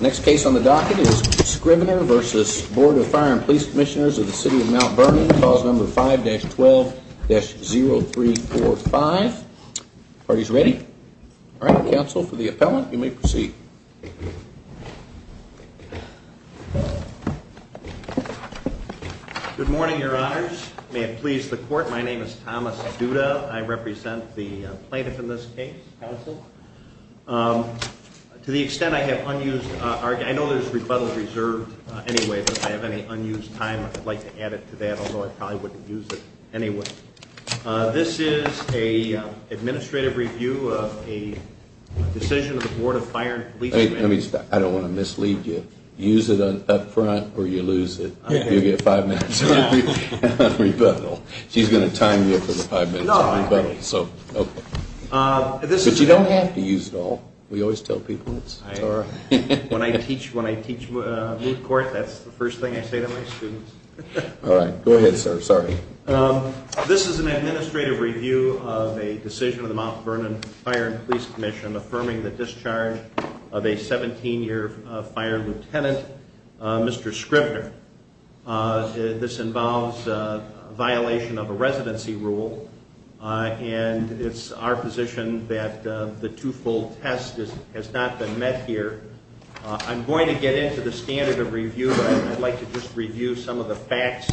Next case on the docket is Scrivner v. Board of Fire & Police Commissioners of the City of Mt. Vernon, Clause 5-12-0345. Parties ready? Alright, counsel, for the appellant, you may proceed. Good morning, your honors. May it please the court, my name is Thomas Duda. I represent the plaintiff in this case, counsel. To the extent I have unused, I know there's rebuttal reserved anyway, but if I have any unused time, I'd like to add it to that, although I probably wouldn't use it anyway. This is an administrative review of a decision of the Board of Fire & Police Commissioners. I don't want to mislead you. Use it up front or you lose it. You'll get five minutes of rebuttal. She's going to time you for the five minutes of rebuttal. But you don't have to use it all. We always tell people. When I teach moot court, that's the first thing I say to my students. Alright, go ahead, sir. Sorry. This is an administrative review of a decision of the Mt. Vernon Fire & Police Commission affirming the discharge of a 17-year fire lieutenant, Mr. Scrivner. This involves a violation of a residency rule, and it's our position that the two-fold test has not been met here. I'm going to get into the standard of review, but I'd like to just review some of the facts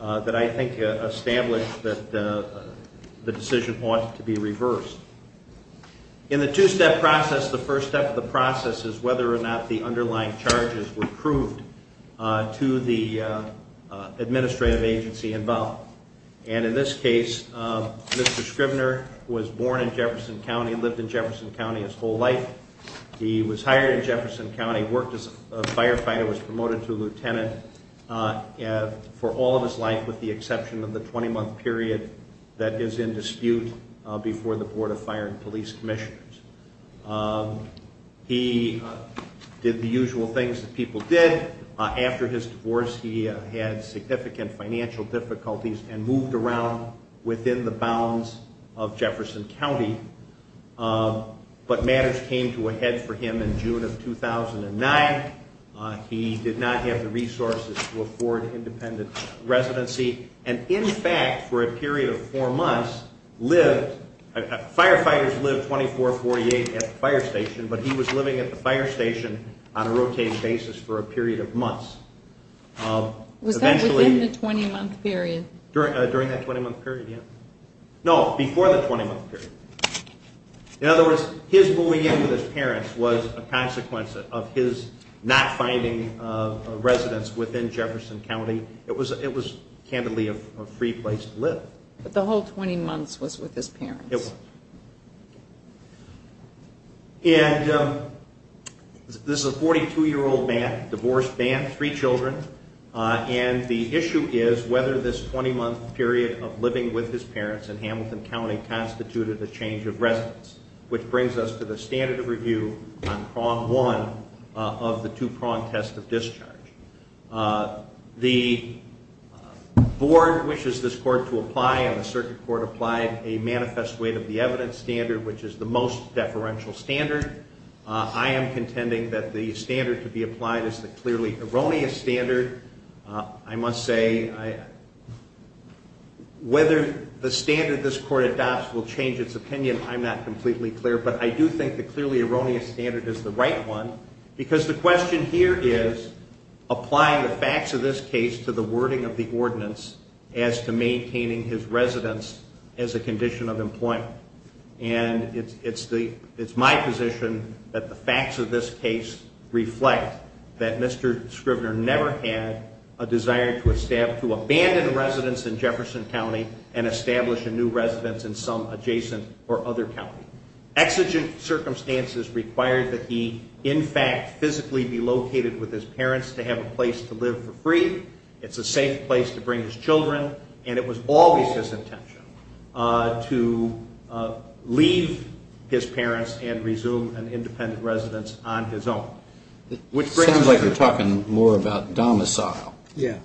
that I think establish that the decision ought to be reversed. In the two-step process, the first step of the process is whether or not the underlying charges were proved to the administrative agency involved. And in this case, Mr. Scrivner was born in Jefferson County, lived in Jefferson County his whole life. He was hired in Jefferson County, worked as a firefighter, was promoted to lieutenant for all of his life, with the exception of the 20-month period that is in dispute before the Board of Fire & Police Commissioners. He did the usual things that people did. After his divorce, he had significant financial difficulties and moved around within the bounds of Jefferson County. But matters came to a head for him in June of 2009. He did not have the resources to afford independent residency, and in fact, for a period of four months, firefighters lived 24-48 at the fire station, but he was living at the fire station on a rotating basis for a period of months. Was that within the 20-month period? During that 20-month period, yeah. No, before the 20-month period. In other words, his moving in with his parents was a consequence of his not finding a residence within Jefferson County. It was candidly a free place to live. But the whole 20 months was with his parents? It was. And this is a 42-year-old man, divorced man, three children, and the issue is whether this 20-month period of living with his parents in Hamilton County constituted a change of residence, which brings us to the standard of review on prong one of the two-prong test of discharge. The board wishes this court to apply, and the circuit court applied, a manifest weight of the evidence standard, which is the most deferential standard. I am contending that the standard to be applied is the clearly erroneous standard. I must say whether the standard this court adopts will change its opinion, I'm not completely clear, but I do think the clearly erroneous standard is the right one, because the question here is applying the facts of this case to the wording of the ordinance as to maintaining his residence as a condition of employment. And it's my position that the facts of this case reflect that Mr. Scrivener never had a desire to abandon a residence in Jefferson County and establish a new residence in some adjacent or other county. Exigent circumstances required that he, in fact, physically be located with his parents to have a place to live for free, it's a safe place to bring his children, and it was always his intention to leave his parents and resume an independent residence on his own. It sounds like you're talking more about domicile. Yeah.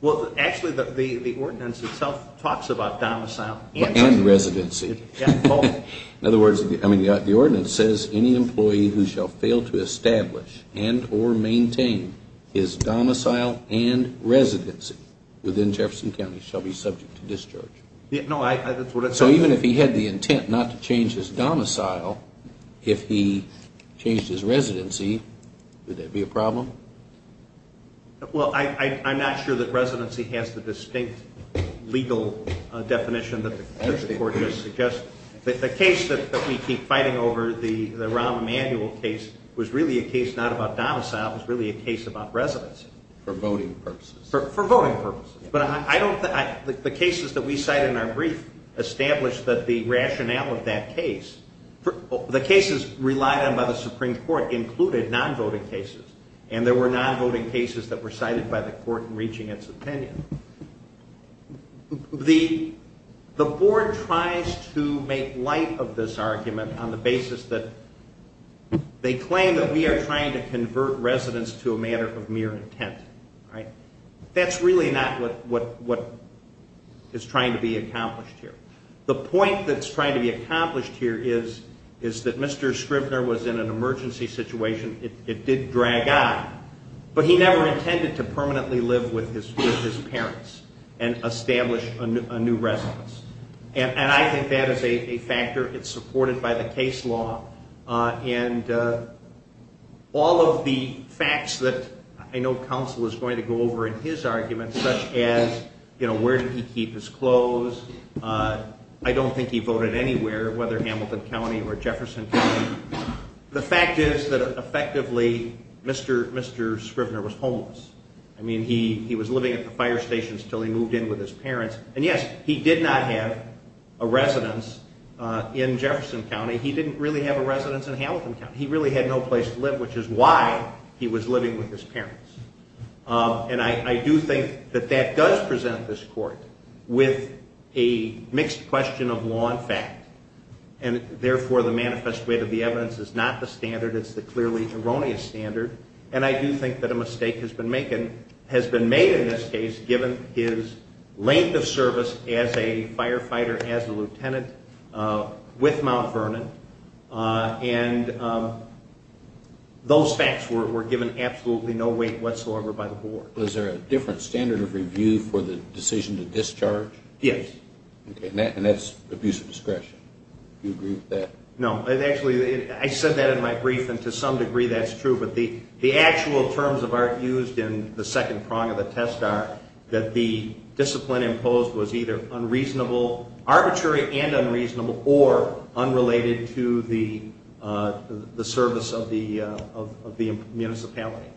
Well, actually, the ordinance itself talks about domicile and residency. In other words, the ordinance says any employee who shall fail to establish and or maintain his domicile and residency within Jefferson County shall be subject to discharge. So even if he had the intent not to change his domicile, if he changed his residency, would that be a problem? Well, I'm not sure that residency has the distinct legal definition that the court just suggested. The case that we keep fighting over, the Rahm Emanuel case, was really a case not about domicile. It was really a case about residency. For voting purposes. For voting purposes. But I don't think the cases that we cite in our brief establish that the rationale of that case, the cases relied on by the Supreme Court included non-voting cases, and there were non-voting cases that were cited by the court in reaching its opinion. The board tries to make light of this argument on the basis that they claim that we are trying to convert residents to a matter of mere intent. That's really not what is trying to be accomplished here. The point that's trying to be accomplished here is that Mr. Scrivner was in an emergency situation. It did drag on. But he never intended to permanently live with his parents and establish a new residence. And I think that is a factor. It's supported by the case law. And all of the facts that I know counsel is going to go over in his argument, such as, you know, where did he keep his clothes. I don't think he voted anywhere, whether Hamilton County or Jefferson County. The fact is that effectively Mr. Scrivner was homeless. I mean, he was living at the fire stations until he moved in with his parents. And, yes, he did not have a residence in Jefferson County. He didn't really have a residence in Hamilton County. He really had no place to live, which is why he was living with his parents. And I do think that that does present this court with a mixed question of law and fact. And, therefore, the manifest wit of the evidence is not the standard. It's the clearly erroneous standard. And I do think that a mistake has been made in this case, given his length of service as a firefighter, as a lieutenant with Mount Vernon. And those facts were given absolutely no weight whatsoever by the board. Was there a different standard of review for the decision to discharge? Yes. And that's abuse of discretion. Do you agree with that? No. Actually, I said that in my brief, and to some degree that's true. But the actual terms of art used in the second prong of the test are that the discipline imposed was either unreasonable, arbitrary and unreasonable, or unrelated to the service of the municipality.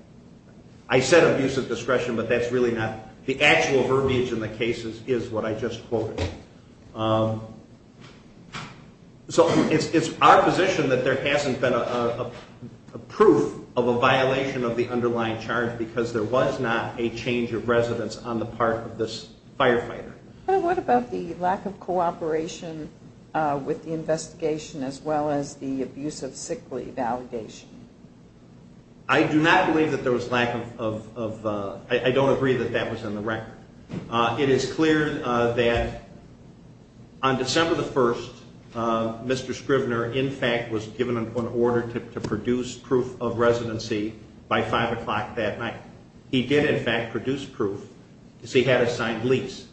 I said abuse of discretion, but that's really not the actual verbiage in the cases is what I just quoted. So it's our position that there hasn't been a proof of a violation of the underlying charge because there was not a change of residence on the part of this firefighter. What about the lack of cooperation with the investigation as well as the abuse of sick leave allegation? I do not believe that there was lack of – I don't agree that that was in the record. It is clear that on December the 1st, Mr. Scrivner, in fact, was given an order to produce proof of residency by 5 o'clock that night. He did, in fact, produce proof because he had a signed lease.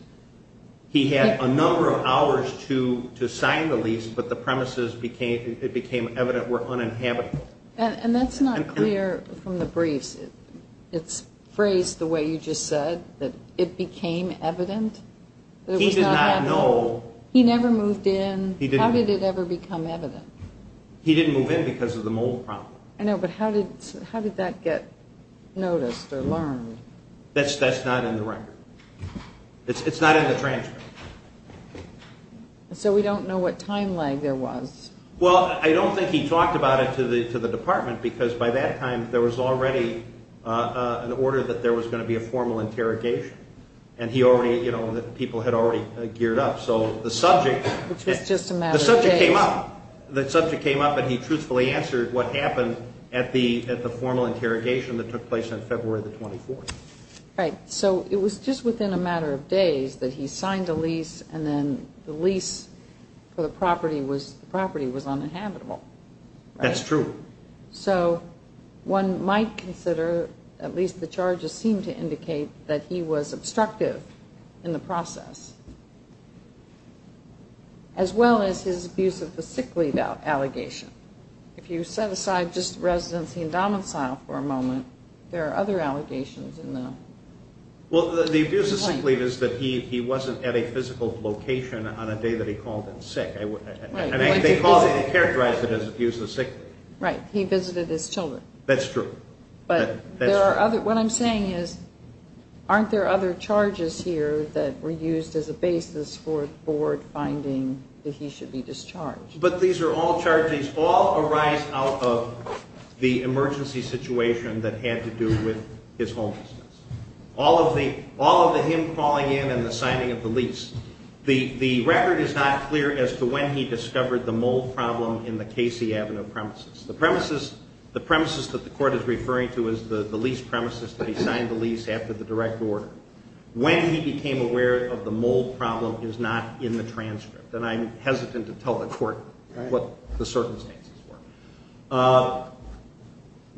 He had a number of hours to sign the lease, but the premises it became evident were uninhabitable. And that's not clear from the briefs. It's phrased the way you just said, that it became evident. He did not know. He never moved in. How did it ever become evident? He didn't move in because of the mold problem. I know, but how did that get noticed or learned? That's not in the record. It's not in the transcript. So we don't know what time lag there was. Well, I don't think he talked about it to the department because by that time there was already an order that there was going to be a formal interrogation, and he already – people had already geared up. So the subject came up. But he truthfully answered what happened at the formal interrogation that took place on February the 24th. Right. So it was just within a matter of days that he signed the lease and then the lease for the property was uninhabitable. That's true. So one might consider at least the charges seem to indicate that he was obstructive in the process as well as his abuse of the sick leave allegation. If you set aside just residency and domicile for a moment, there are other allegations in the claim. Well, the abuse of sick leave is that he wasn't at a physical location on a day that he called in sick. Right. And they characterized it as abuse of sick leave. Right. He visited his children. That's true. What I'm saying is aren't there other charges here that were used as a basis for the board finding that he should be discharged? But these are all charges. All arise out of the emergency situation that had to do with his homelessness. All of the him calling in and the signing of the lease. The record is not clear as to when he discovered the mold problem in the Casey Avenue premises. The premises that the court is referring to is the lease premises that he signed the lease after the direct order. When he became aware of the mold problem is not in the transcript, and I'm hesitant to tell the court what the circumstances were.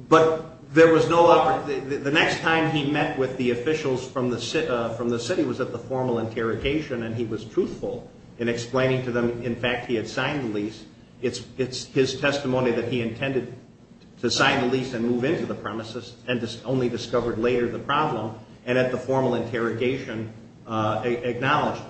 But the next time he met with the officials from the city was at the formal interrogation, and he was truthful in explaining to them, in fact, he had signed the lease. It's his testimony that he intended to sign the lease and move into the premises and only discovered later the problem and at the formal interrogation acknowledged.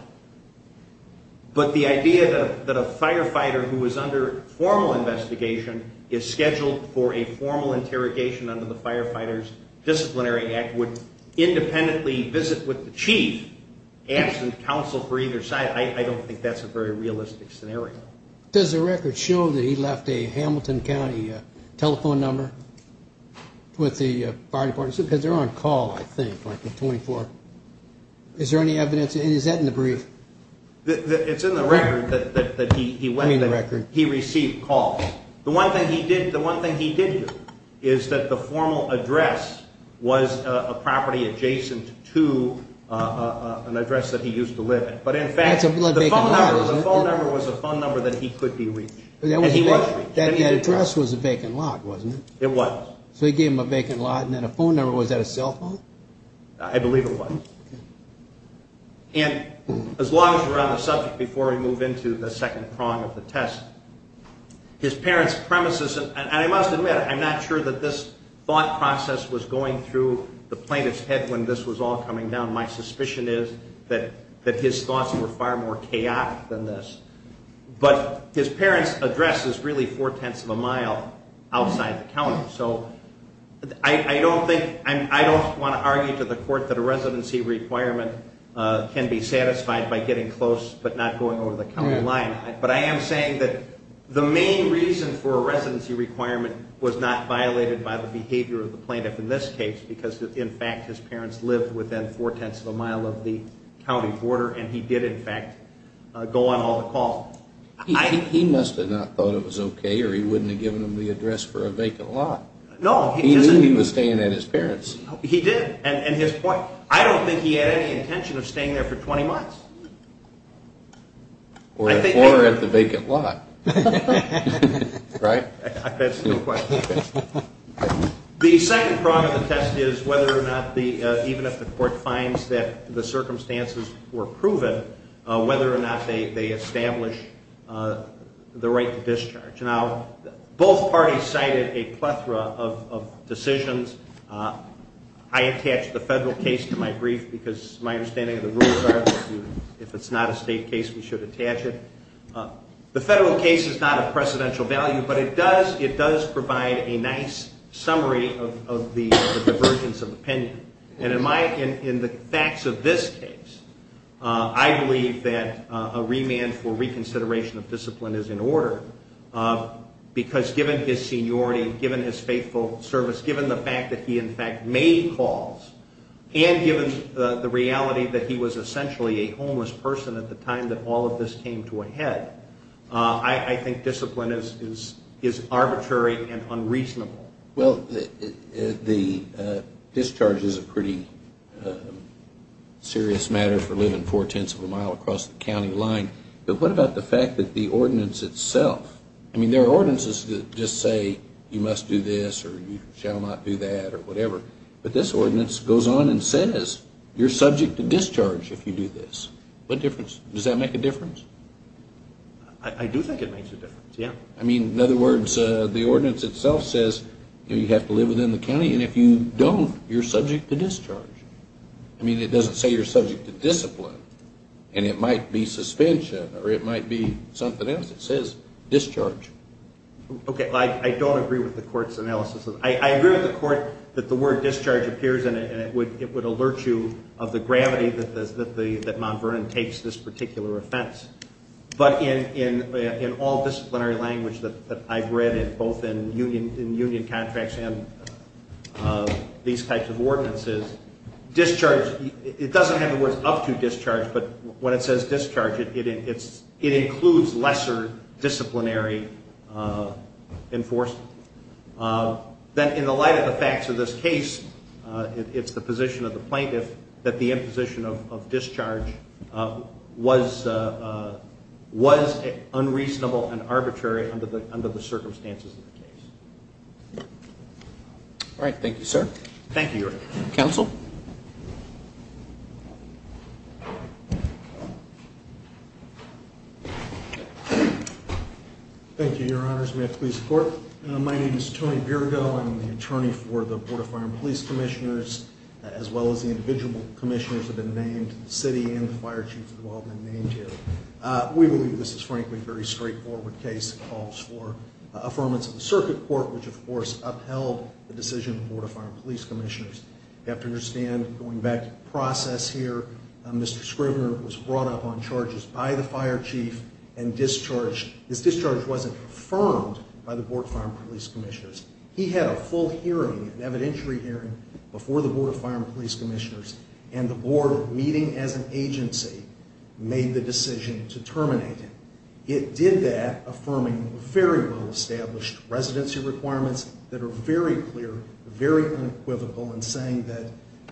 But the idea that a firefighter who was under formal investigation is scheduled for a formal interrogation under the Firefighters Disciplinary Act would independently visit with the chief, absent counsel for either side, I don't think that's a very realistic scenario. Does the record show that he left a Hamilton County telephone number with the fire department? Because they're on call, I think, like the 24th. Is there any evidence? And is that in the brief? It's in the record that he went and he received calls. The one thing he did do is that the formal address was a property adjacent to an address that he used to live in. But, in fact, the phone number was a phone number that he could be reached, and he was reached. That address was a vacant lot, wasn't it? It was. So he gave them a vacant lot and then a phone number. Was that a cell phone? I believe it was. And as long as we're on the subject before we move into the second prong of the test, his parents' premises, and I must admit I'm not sure that this thought process was going through the plaintiff's head when this was all coming down. My suspicion is that his thoughts were far more chaotic than this. But his parents' address is really four-tenths of a mile outside the county. So I don't want to argue to the court that a residency requirement can be satisfied by getting close but not going over the county line. But I am saying that the main reason for a residency requirement was not violated by the behavior of the plaintiff in this case because, in fact, his parents lived within four-tenths of a mile of the county border, and he did, in fact, go on all the calls. He must have not thought it was okay or he wouldn't have given them the address for a vacant lot. No, he didn't. He knew he was staying at his parents'. He did. And his point, I don't think he had any intention of staying there for 20 months. Or at the vacant lot. Right? That's no question. The second prong of the test is whether or not, even if the court finds that the circumstances were proven, whether or not they establish the right to discharge. Now, both parties cited a plethora of decisions. I attached the federal case to my brief because my understanding of the rules are if it's not a state case, we should attach it. The federal case is not of precedential value, but it does provide a nice summary of the divergence of opinion. And in the facts of this case, I believe that a remand for reconsideration of discipline is in order because, given his seniority, given his faithful service, given the fact that he, in fact, made calls, and given the reality that he was essentially a homeless person at the time that all of this came to a head, I think discipline is arbitrary and unreasonable. Well, the discharge is a pretty serious matter for living four-tenths of a mile across the county line. But what about the fact that the ordinance itself, I mean, there are ordinances that just say you must do this or you shall not do that or whatever. But this ordinance goes on and says you're subject to discharge if you do this. What difference? Does that make a difference? I do think it makes a difference, yeah. I mean, in other words, the ordinance itself says you have to live within the county, and if you don't, you're subject to discharge. I mean, it doesn't say you're subject to discipline, and it might be suspension or it might be something else. It says discharge. Okay, I don't agree with the court's analysis. I agree with the court that the word discharge appears in it, and it would alert you of the gravity that Mount Vernon takes this particular offense. But in all disciplinary language that I've read, both in union contracts and these types of ordinances, discharge, it doesn't have the words up to discharge, but when it says discharge, it includes lesser disciplinary enforcement. Then in the light of the facts of this case, it's the position of the plaintiff that the imposition of discharge was unreasonable and arbitrary under the circumstances of the case. All right, thank you, sir. Thank you, Your Honor. Counsel? Thank you, Your Honors. May I please report? My name is Tony Birgo. I'm the attorney for the Board of Fire and Police Commissioners, as well as the individual commissioners that have been named, the city and the fire chief who have all been named here. We believe this is, frankly, a very straightforward case. It calls for affirmance of the circuit court, which, of course, upheld the decision of the Board of Fire and Police Commissioners. You have to understand, going back to the process here, Mr. Scrivner was brought up on charges by the fire chief and discharged. His discharge wasn't affirmed by the Board of Fire and Police Commissioners. He had a full hearing, an evidentiary hearing, before the Board of Fire and Police Commissioners, and the board meeting as an agency made the decision to terminate him. It did that, affirming very well-established residency requirements that are very clear, very unequivocal in saying that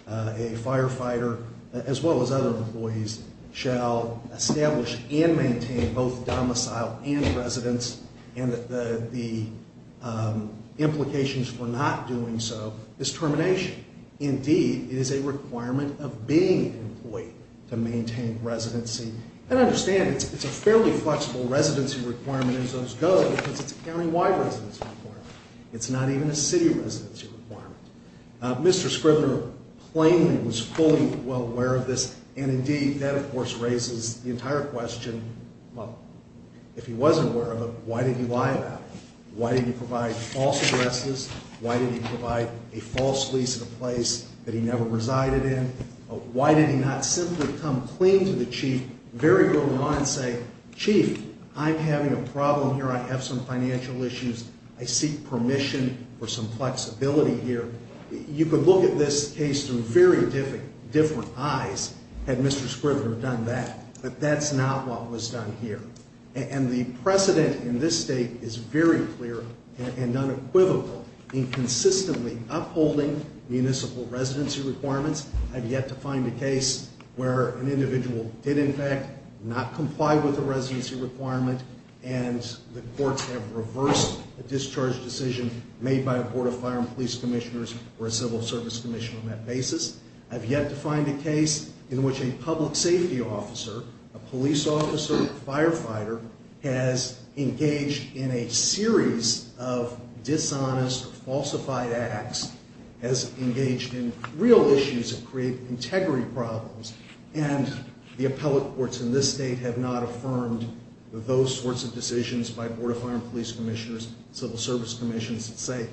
a firefighter, as well as other employees, shall establish and maintain both domicile and residence, and that the implications for not doing so is termination. Indeed, it is a requirement of being an employee to maintain residency. And understand, it's a fairly flexible residency requirement as those go, because it's a countywide residency requirement. It's not even a city residency requirement. Mr. Scrivner plainly was fully well aware of this, and, indeed, that, of course, raises the entire question, well, if he wasn't aware of it, why did he lie about it? Why did he provide false addresses? Why did he provide a false lease at a place that he never resided in? Why did he not simply come clean to the chief very early on and say, Chief, I'm having a problem here. I have some financial issues. I seek permission for some flexibility here. You could look at this case through very different eyes had Mr. Scrivner done that, but that's not what was done here. And the precedent in this state is very clear and unequivocal in consistently upholding municipal residency requirements. I've yet to find a case where an individual did, in fact, not comply with a residency requirement, and the courts have reversed a discharge decision made by a board of fire and police commissioners or a civil service commission on that basis. I've yet to find a case in which a public safety officer, a police officer, a firefighter, has engaged in a series of dishonest or falsified acts, has engaged in real issues that create integrity problems, and the appellate courts in this state have not affirmed those sorts of decisions by board of fire and police commissioners, civil service commissions that say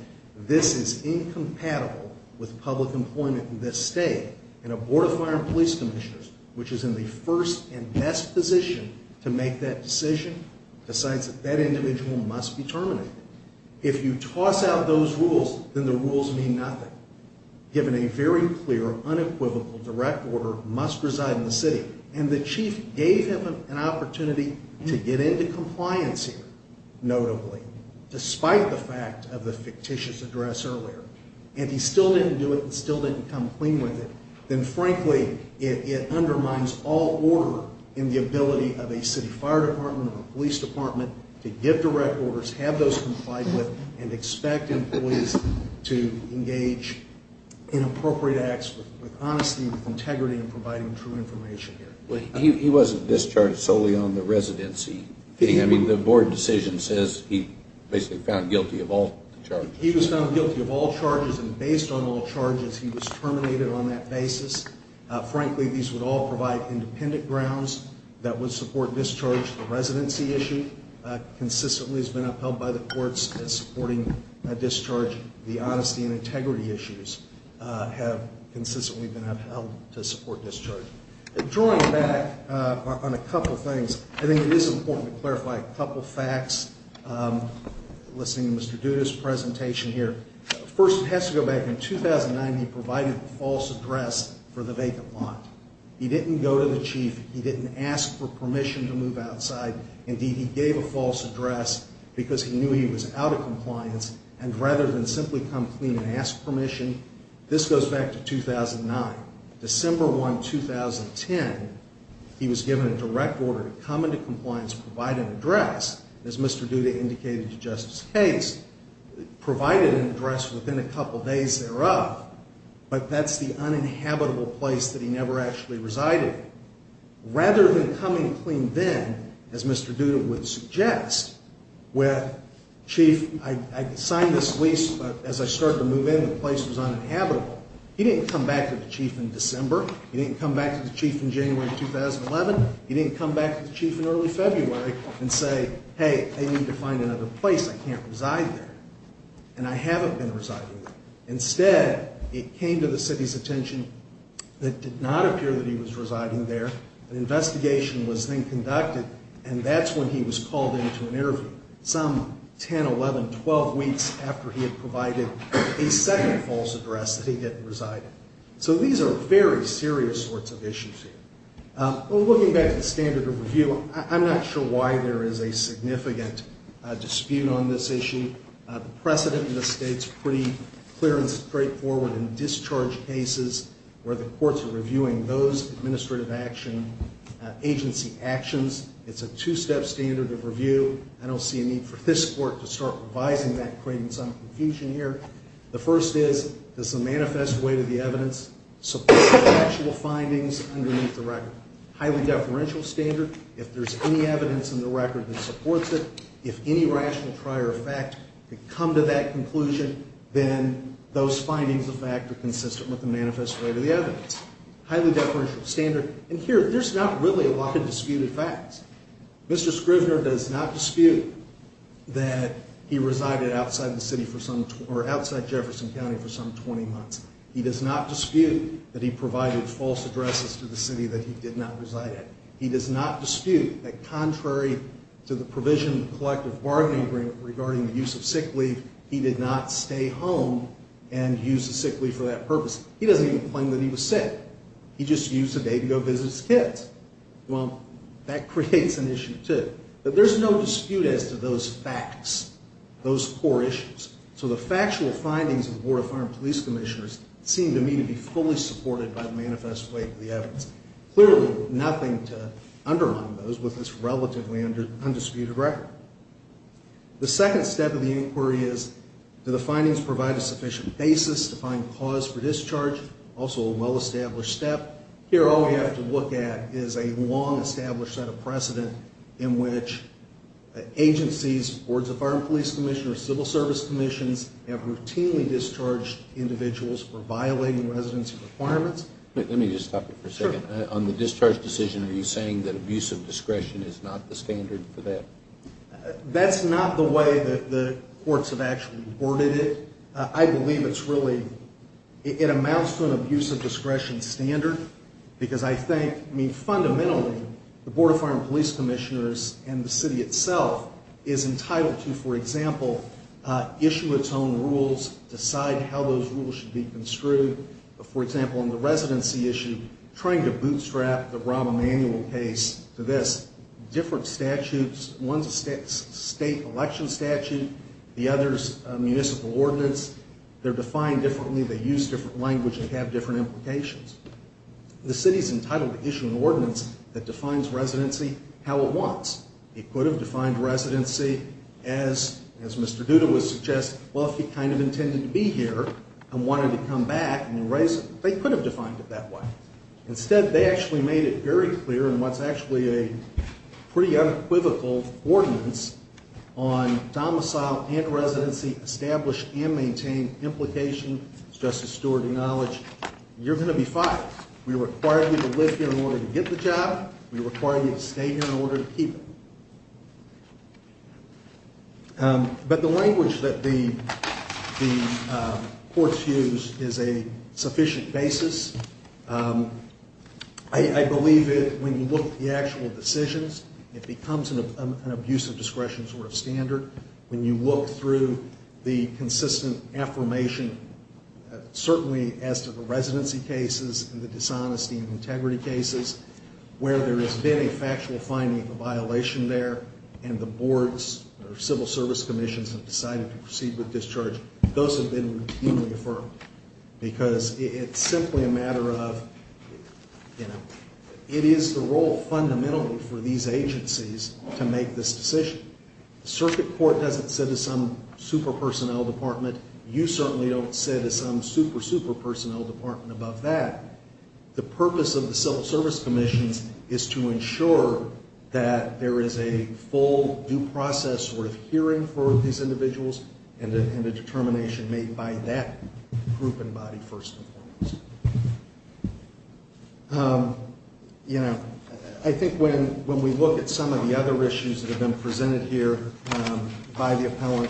this is incompatible with public employment in this state. And a board of fire and police commissioners, which is in the first and best position to make that decision, decides that that individual must be terminated. If you toss out those rules, then the rules mean nothing, given a very clear, unequivocal, direct order, must reside in the city, and the chief gave him an opportunity to get into compliance here, notably, despite the fact of the fictitious address earlier. And if he still didn't do it and still didn't come clean with it, then frankly, it undermines all order in the ability of a city fire department or a police department to give direct orders, have those complied with, and expect employees to engage in appropriate acts with honesty, with integrity, and providing true information here. He wasn't discharged solely on the residency thing. I mean, the board decision says he basically found guilty of all charges. He was found guilty of all charges, and based on all charges, he was terminated on that basis. Frankly, these would all provide independent grounds that would support discharge. The residency issue consistently has been upheld by the courts as supporting a discharge. The honesty and integrity issues have consistently been upheld to support discharge. Drawing back on a couple things, I think it is important to clarify a couple facts. Listening to Mr. Duda's presentation here. First, it has to go back in 2009 he provided the false address for the vacant lot. He didn't go to the chief. He didn't ask for permission to move outside. Indeed, he gave a false address because he knew he was out of compliance, and rather than simply come clean and ask permission, this goes back to 2009. December 1, 2010, he was given a direct order to come into compliance, provide an address, as Mr. Duda indicated to Justice Case, provide an address within a couple days thereof, but that's the uninhabitable place that he never actually resided. Rather than coming clean then, as Mr. Duda would suggest, with chief, I signed this lease, but as I started to move in, the place was uninhabitable. He didn't come back to the chief in December. He didn't come back to the chief in January 2011. He didn't come back to the chief in early February and say, hey, I need to find another place. I can't reside there, and I haven't been residing there. Instead, it came to the city's attention that it did not appear that he was residing there. An investigation was then conducted, and that's when he was called into an interview. some 10, 11, 12 weeks after he had provided a second false address that he hadn't resided. So these are very serious sorts of issues here. Looking back at the standard of review, I'm not sure why there is a significant dispute on this issue. The precedent in the state's pretty clear and straightforward in discharge cases where the courts are reviewing those administrative action, agency actions. It's a two-step standard of review. I don't see a need for this court to start revising that credence. I'm in confusion here. The first is, does the manifest weight of the evidence support the factual findings underneath the record? Highly deferential standard, if there's any evidence in the record that supports it, if any rational prior fact could come to that conclusion, then those findings of fact are consistent with the manifest weight of the evidence. Highly deferential standard. And here, there's not really a lot of disputed facts. Mr. Scrivner does not dispute that he resided outside Jefferson County for some 20 months. He does not dispute that he provided false addresses to the city that he did not reside at. He does not dispute that contrary to the provision of the collective bargaining agreement regarding the use of sick leave, he did not stay home and use the sick leave for that purpose. He doesn't even claim that he was sick. He just used the day to go visit his kids. Well, that creates an issue, too. But there's no dispute as to those facts, those core issues. So the factual findings of the Board of Farm Police Commissioners seem to me to be fully supported by the manifest weight of the evidence. Clearly, nothing to undermine those with this relatively undisputed record. The second step of the inquiry is, do the findings provide a sufficient basis to find cause for discharge? Also a well-established step. Here, all we have to look at is a long-established set of precedent in which agencies, boards of farm police commissioners, civil service commissions, have routinely discharged individuals for violating residency requirements. Let me just stop you for a second. On the discharge decision, are you saying that abuse of discretion is not the standard for that? That's not the way that the courts have actually reported it. I believe it's really, it amounts to an abuse of discretion standard, because I think, I mean, fundamentally, the Board of Farm Police Commissioners and the city itself is entitled to, for example, issue its own rules, decide how those rules should be construed. For example, on the residency issue, trying to bootstrap the Rahm Emanuel case to this, different statutes, one's a state election statute, the other's a municipal ordinance. They're defined differently. They use different language. They have different implications. The city's entitled to issue an ordinance that defines residency how it wants. It could have defined residency as Mr. Duda would suggest. Well, if he kind of intended to be here and wanted to come back and erase it, they could have defined it that way. Instead, they actually made it very clear in what's actually a pretty unequivocal ordinance on domicile and residency established and maintained implication, as Justice Stewart acknowledged. You're going to be fired. We require you to live here in order to get the job. We require you to stay here in order to keep it. But the language that the courts use is a sufficient basis. I believe that when you look at the actual decisions, it becomes an abuse of discretion sort of standard. When you look through the consistent affirmation, certainly as to the residency cases and the dishonesty and integrity cases, where there has been a factual finding of a violation there and the boards or civil service commissions have decided to proceed with discharge, those have been routinely affirmed because it's simply a matter of, you know, it is the role fundamentally for these agencies to make this decision. The circuit court doesn't sit as some super personnel department. You certainly don't sit as some super, super personnel department above that. The purpose of the civil service commissions is to ensure that there is a full due process sort of hearing for these individuals and a determination made by that group and body first and foremost. You know, I think when we look at some of the other issues that have been presented here by the appellant,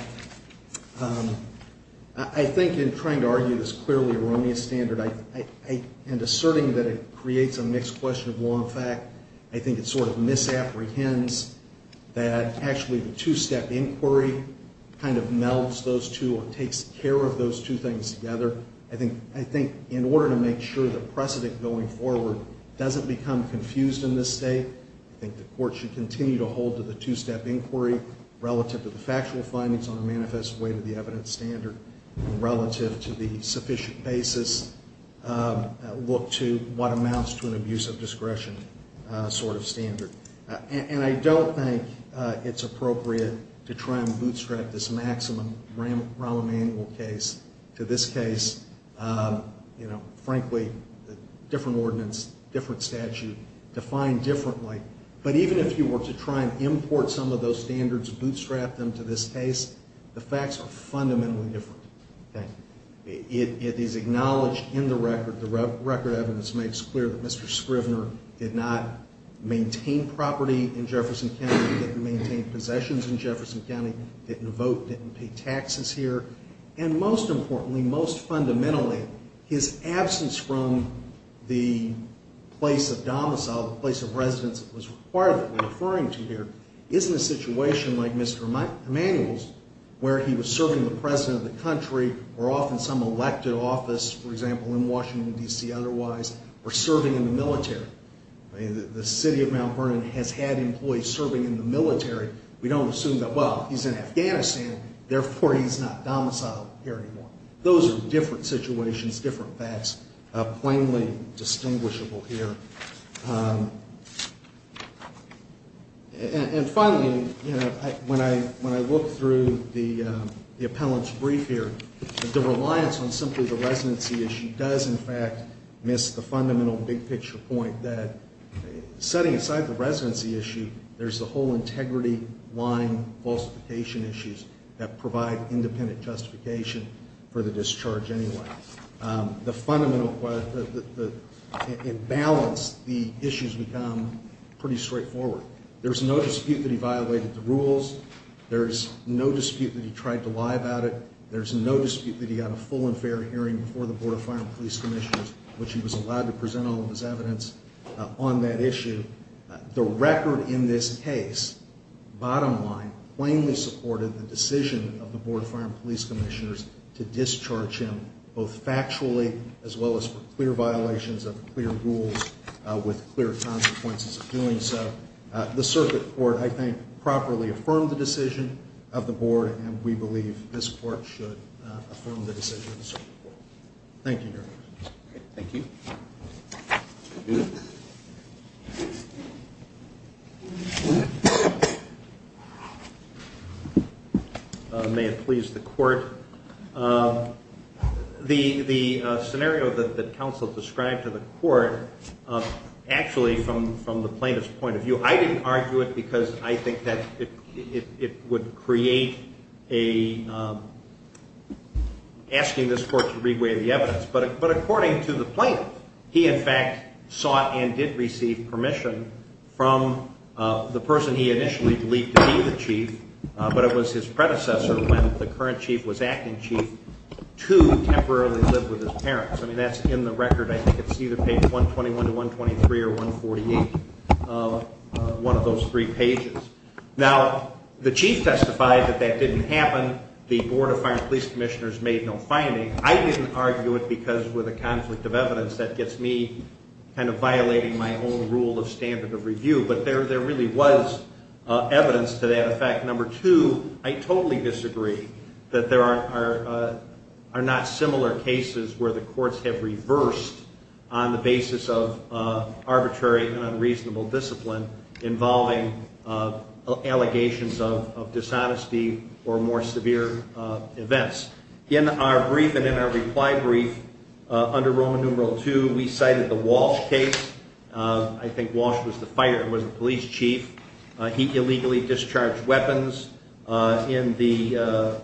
I think in trying to argue this clearly erroneous standard and asserting that it creates a mixed question of law and fact, I think it sort of misapprehends that actually the two-step inquiry kind of melds those two or takes care of those two things together. I think in order to make sure the precedent going forward doesn't become confused in this state, I think the court should continue to hold to the two-step inquiry relative to the factual findings on a manifest way to the evidence standard relative to the sufficient basis, look to what amounts to an abuse of discretion sort of standard. And I don't think it's appropriate to try and bootstrap this maximum Rahm Emanuel case to this case. You know, frankly, different ordinance, different statute, defined differently. But even if you were to try and import some of those standards, bootstrap them to this case, the facts are fundamentally different. It is acknowledged in the record. The record evidence makes clear that Mr. Scrivner did not maintain property in Jefferson County, didn't maintain possessions in Jefferson County, didn't vote, didn't pay taxes here. And most importantly, most fundamentally, his absence from the place of domicile, the place of residence that was required that we're referring to here, isn't a situation like Mr. Emanuel's where he was serving the president of the country or off in some elected office, for example, in Washington, D.C., otherwise, or serving in the military. The city of Mount Vernon has had employees serving in the military. We don't assume that, well, he's in Afghanistan, therefore he's not domiciled here anymore. Those are different situations, different facts, plainly distinguishable here. And finally, you know, when I look through the appellant's brief here, the reliance on simply the residency issue does, in fact, miss the fundamental big picture point that setting aside the residency issue, there's the whole integrity line falsification issues that provide independent justification for the discharge anyway. The fundamental, in balance, the issues become pretty straightforward. There's no dispute that he violated the rules. There's no dispute that he tried to lie about it. There's no dispute that he got a full and fair hearing before the Board of Fire and Police Commissioners, which he was allowed to present all of his evidence on that issue. The record in this case, bottom line, plainly supported the decision of the Board of Fire and Police Commissioners to discharge him, both factually as well as for clear violations of clear rules with clear consequences of doing so. The circuit court, I think, properly affirmed the decision of the board, and we believe this court should affirm the decision of the circuit court. Thank you, Your Honor. Thank you. May it please the court. The scenario that counsel described to the court, actually, from the plaintiff's point of view, I didn't argue it because I think that it would create asking this court to re-weigh the evidence, but according to the plaintiff, he, in fact, sought and did receive permission from the person he initially believed to be the chief, but it was his predecessor when the current chief was acting chief to temporarily live with his parents. I mean, that's in the record. I think it's either page 121 to 123 or 148, one of those three pages. Now, the chief testified that that didn't happen. The Board of Fire and Police Commissioners made no finding. I didn't argue it because, with a conflict of evidence, that gets me kind of violating my own rule of standard of review, but there really was evidence to that effect. Number two, I totally disagree that there are not similar cases where the courts have reversed on the basis of arbitrary and unreasonable discipline involving allegations of dishonesty or more severe events. In our brief and in our reply brief under Roman numeral two, we cited the Walsh case. I think Walsh was the fire, was the police chief. He illegally discharged weapons. In the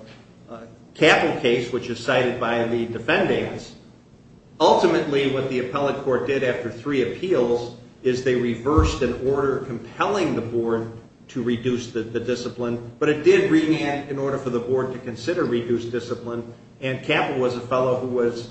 Capple case, which is cited by the defendants, ultimately what the appellate court did after three appeals is they reversed an order compelling the board to reduce the discipline, but it did remand in order for the board to consider reduced discipline, and Capple was a fellow who was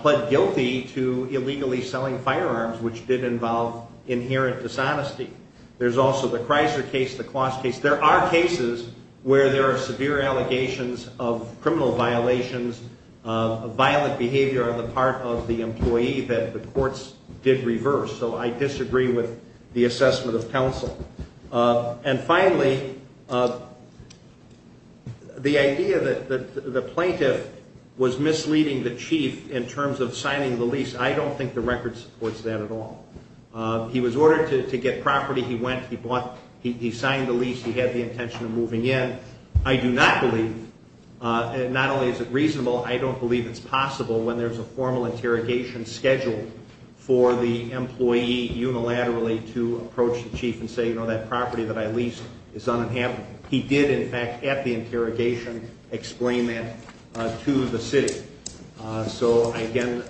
pled guilty to illegally selling firearms, which did involve inherent dishonesty. There's also the Kreiser case, the Kloss case. There are cases where there are severe allegations of criminal violations, of violent behavior on the part of the employee that the courts did reverse, so I disagree with the assessment of counsel. And finally, the idea that the plaintiff was misleading the chief in terms of signing the lease, I don't think the record supports that at all. He was ordered to get property. He went. He bought. He signed the lease. He had the intention of moving in. I do not believe, and not only is it reasonable, I don't believe it's possible when there's a formal interrogation scheduled for the employee unilaterally to approach the chief and say, you know, that property that I leased is uninhabitable. He did, in fact, at the interrogation, explain that to the city. So, again,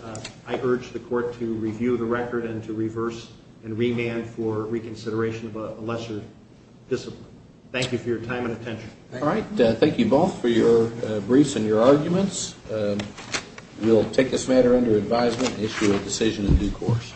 I urge the court to review the record and to reverse and remand for reconsideration of a lesser discipline. Thank you for your time and attention. All right. Thank you both for your briefs and your arguments. We'll take this matter under advisement and issue a decision in due course.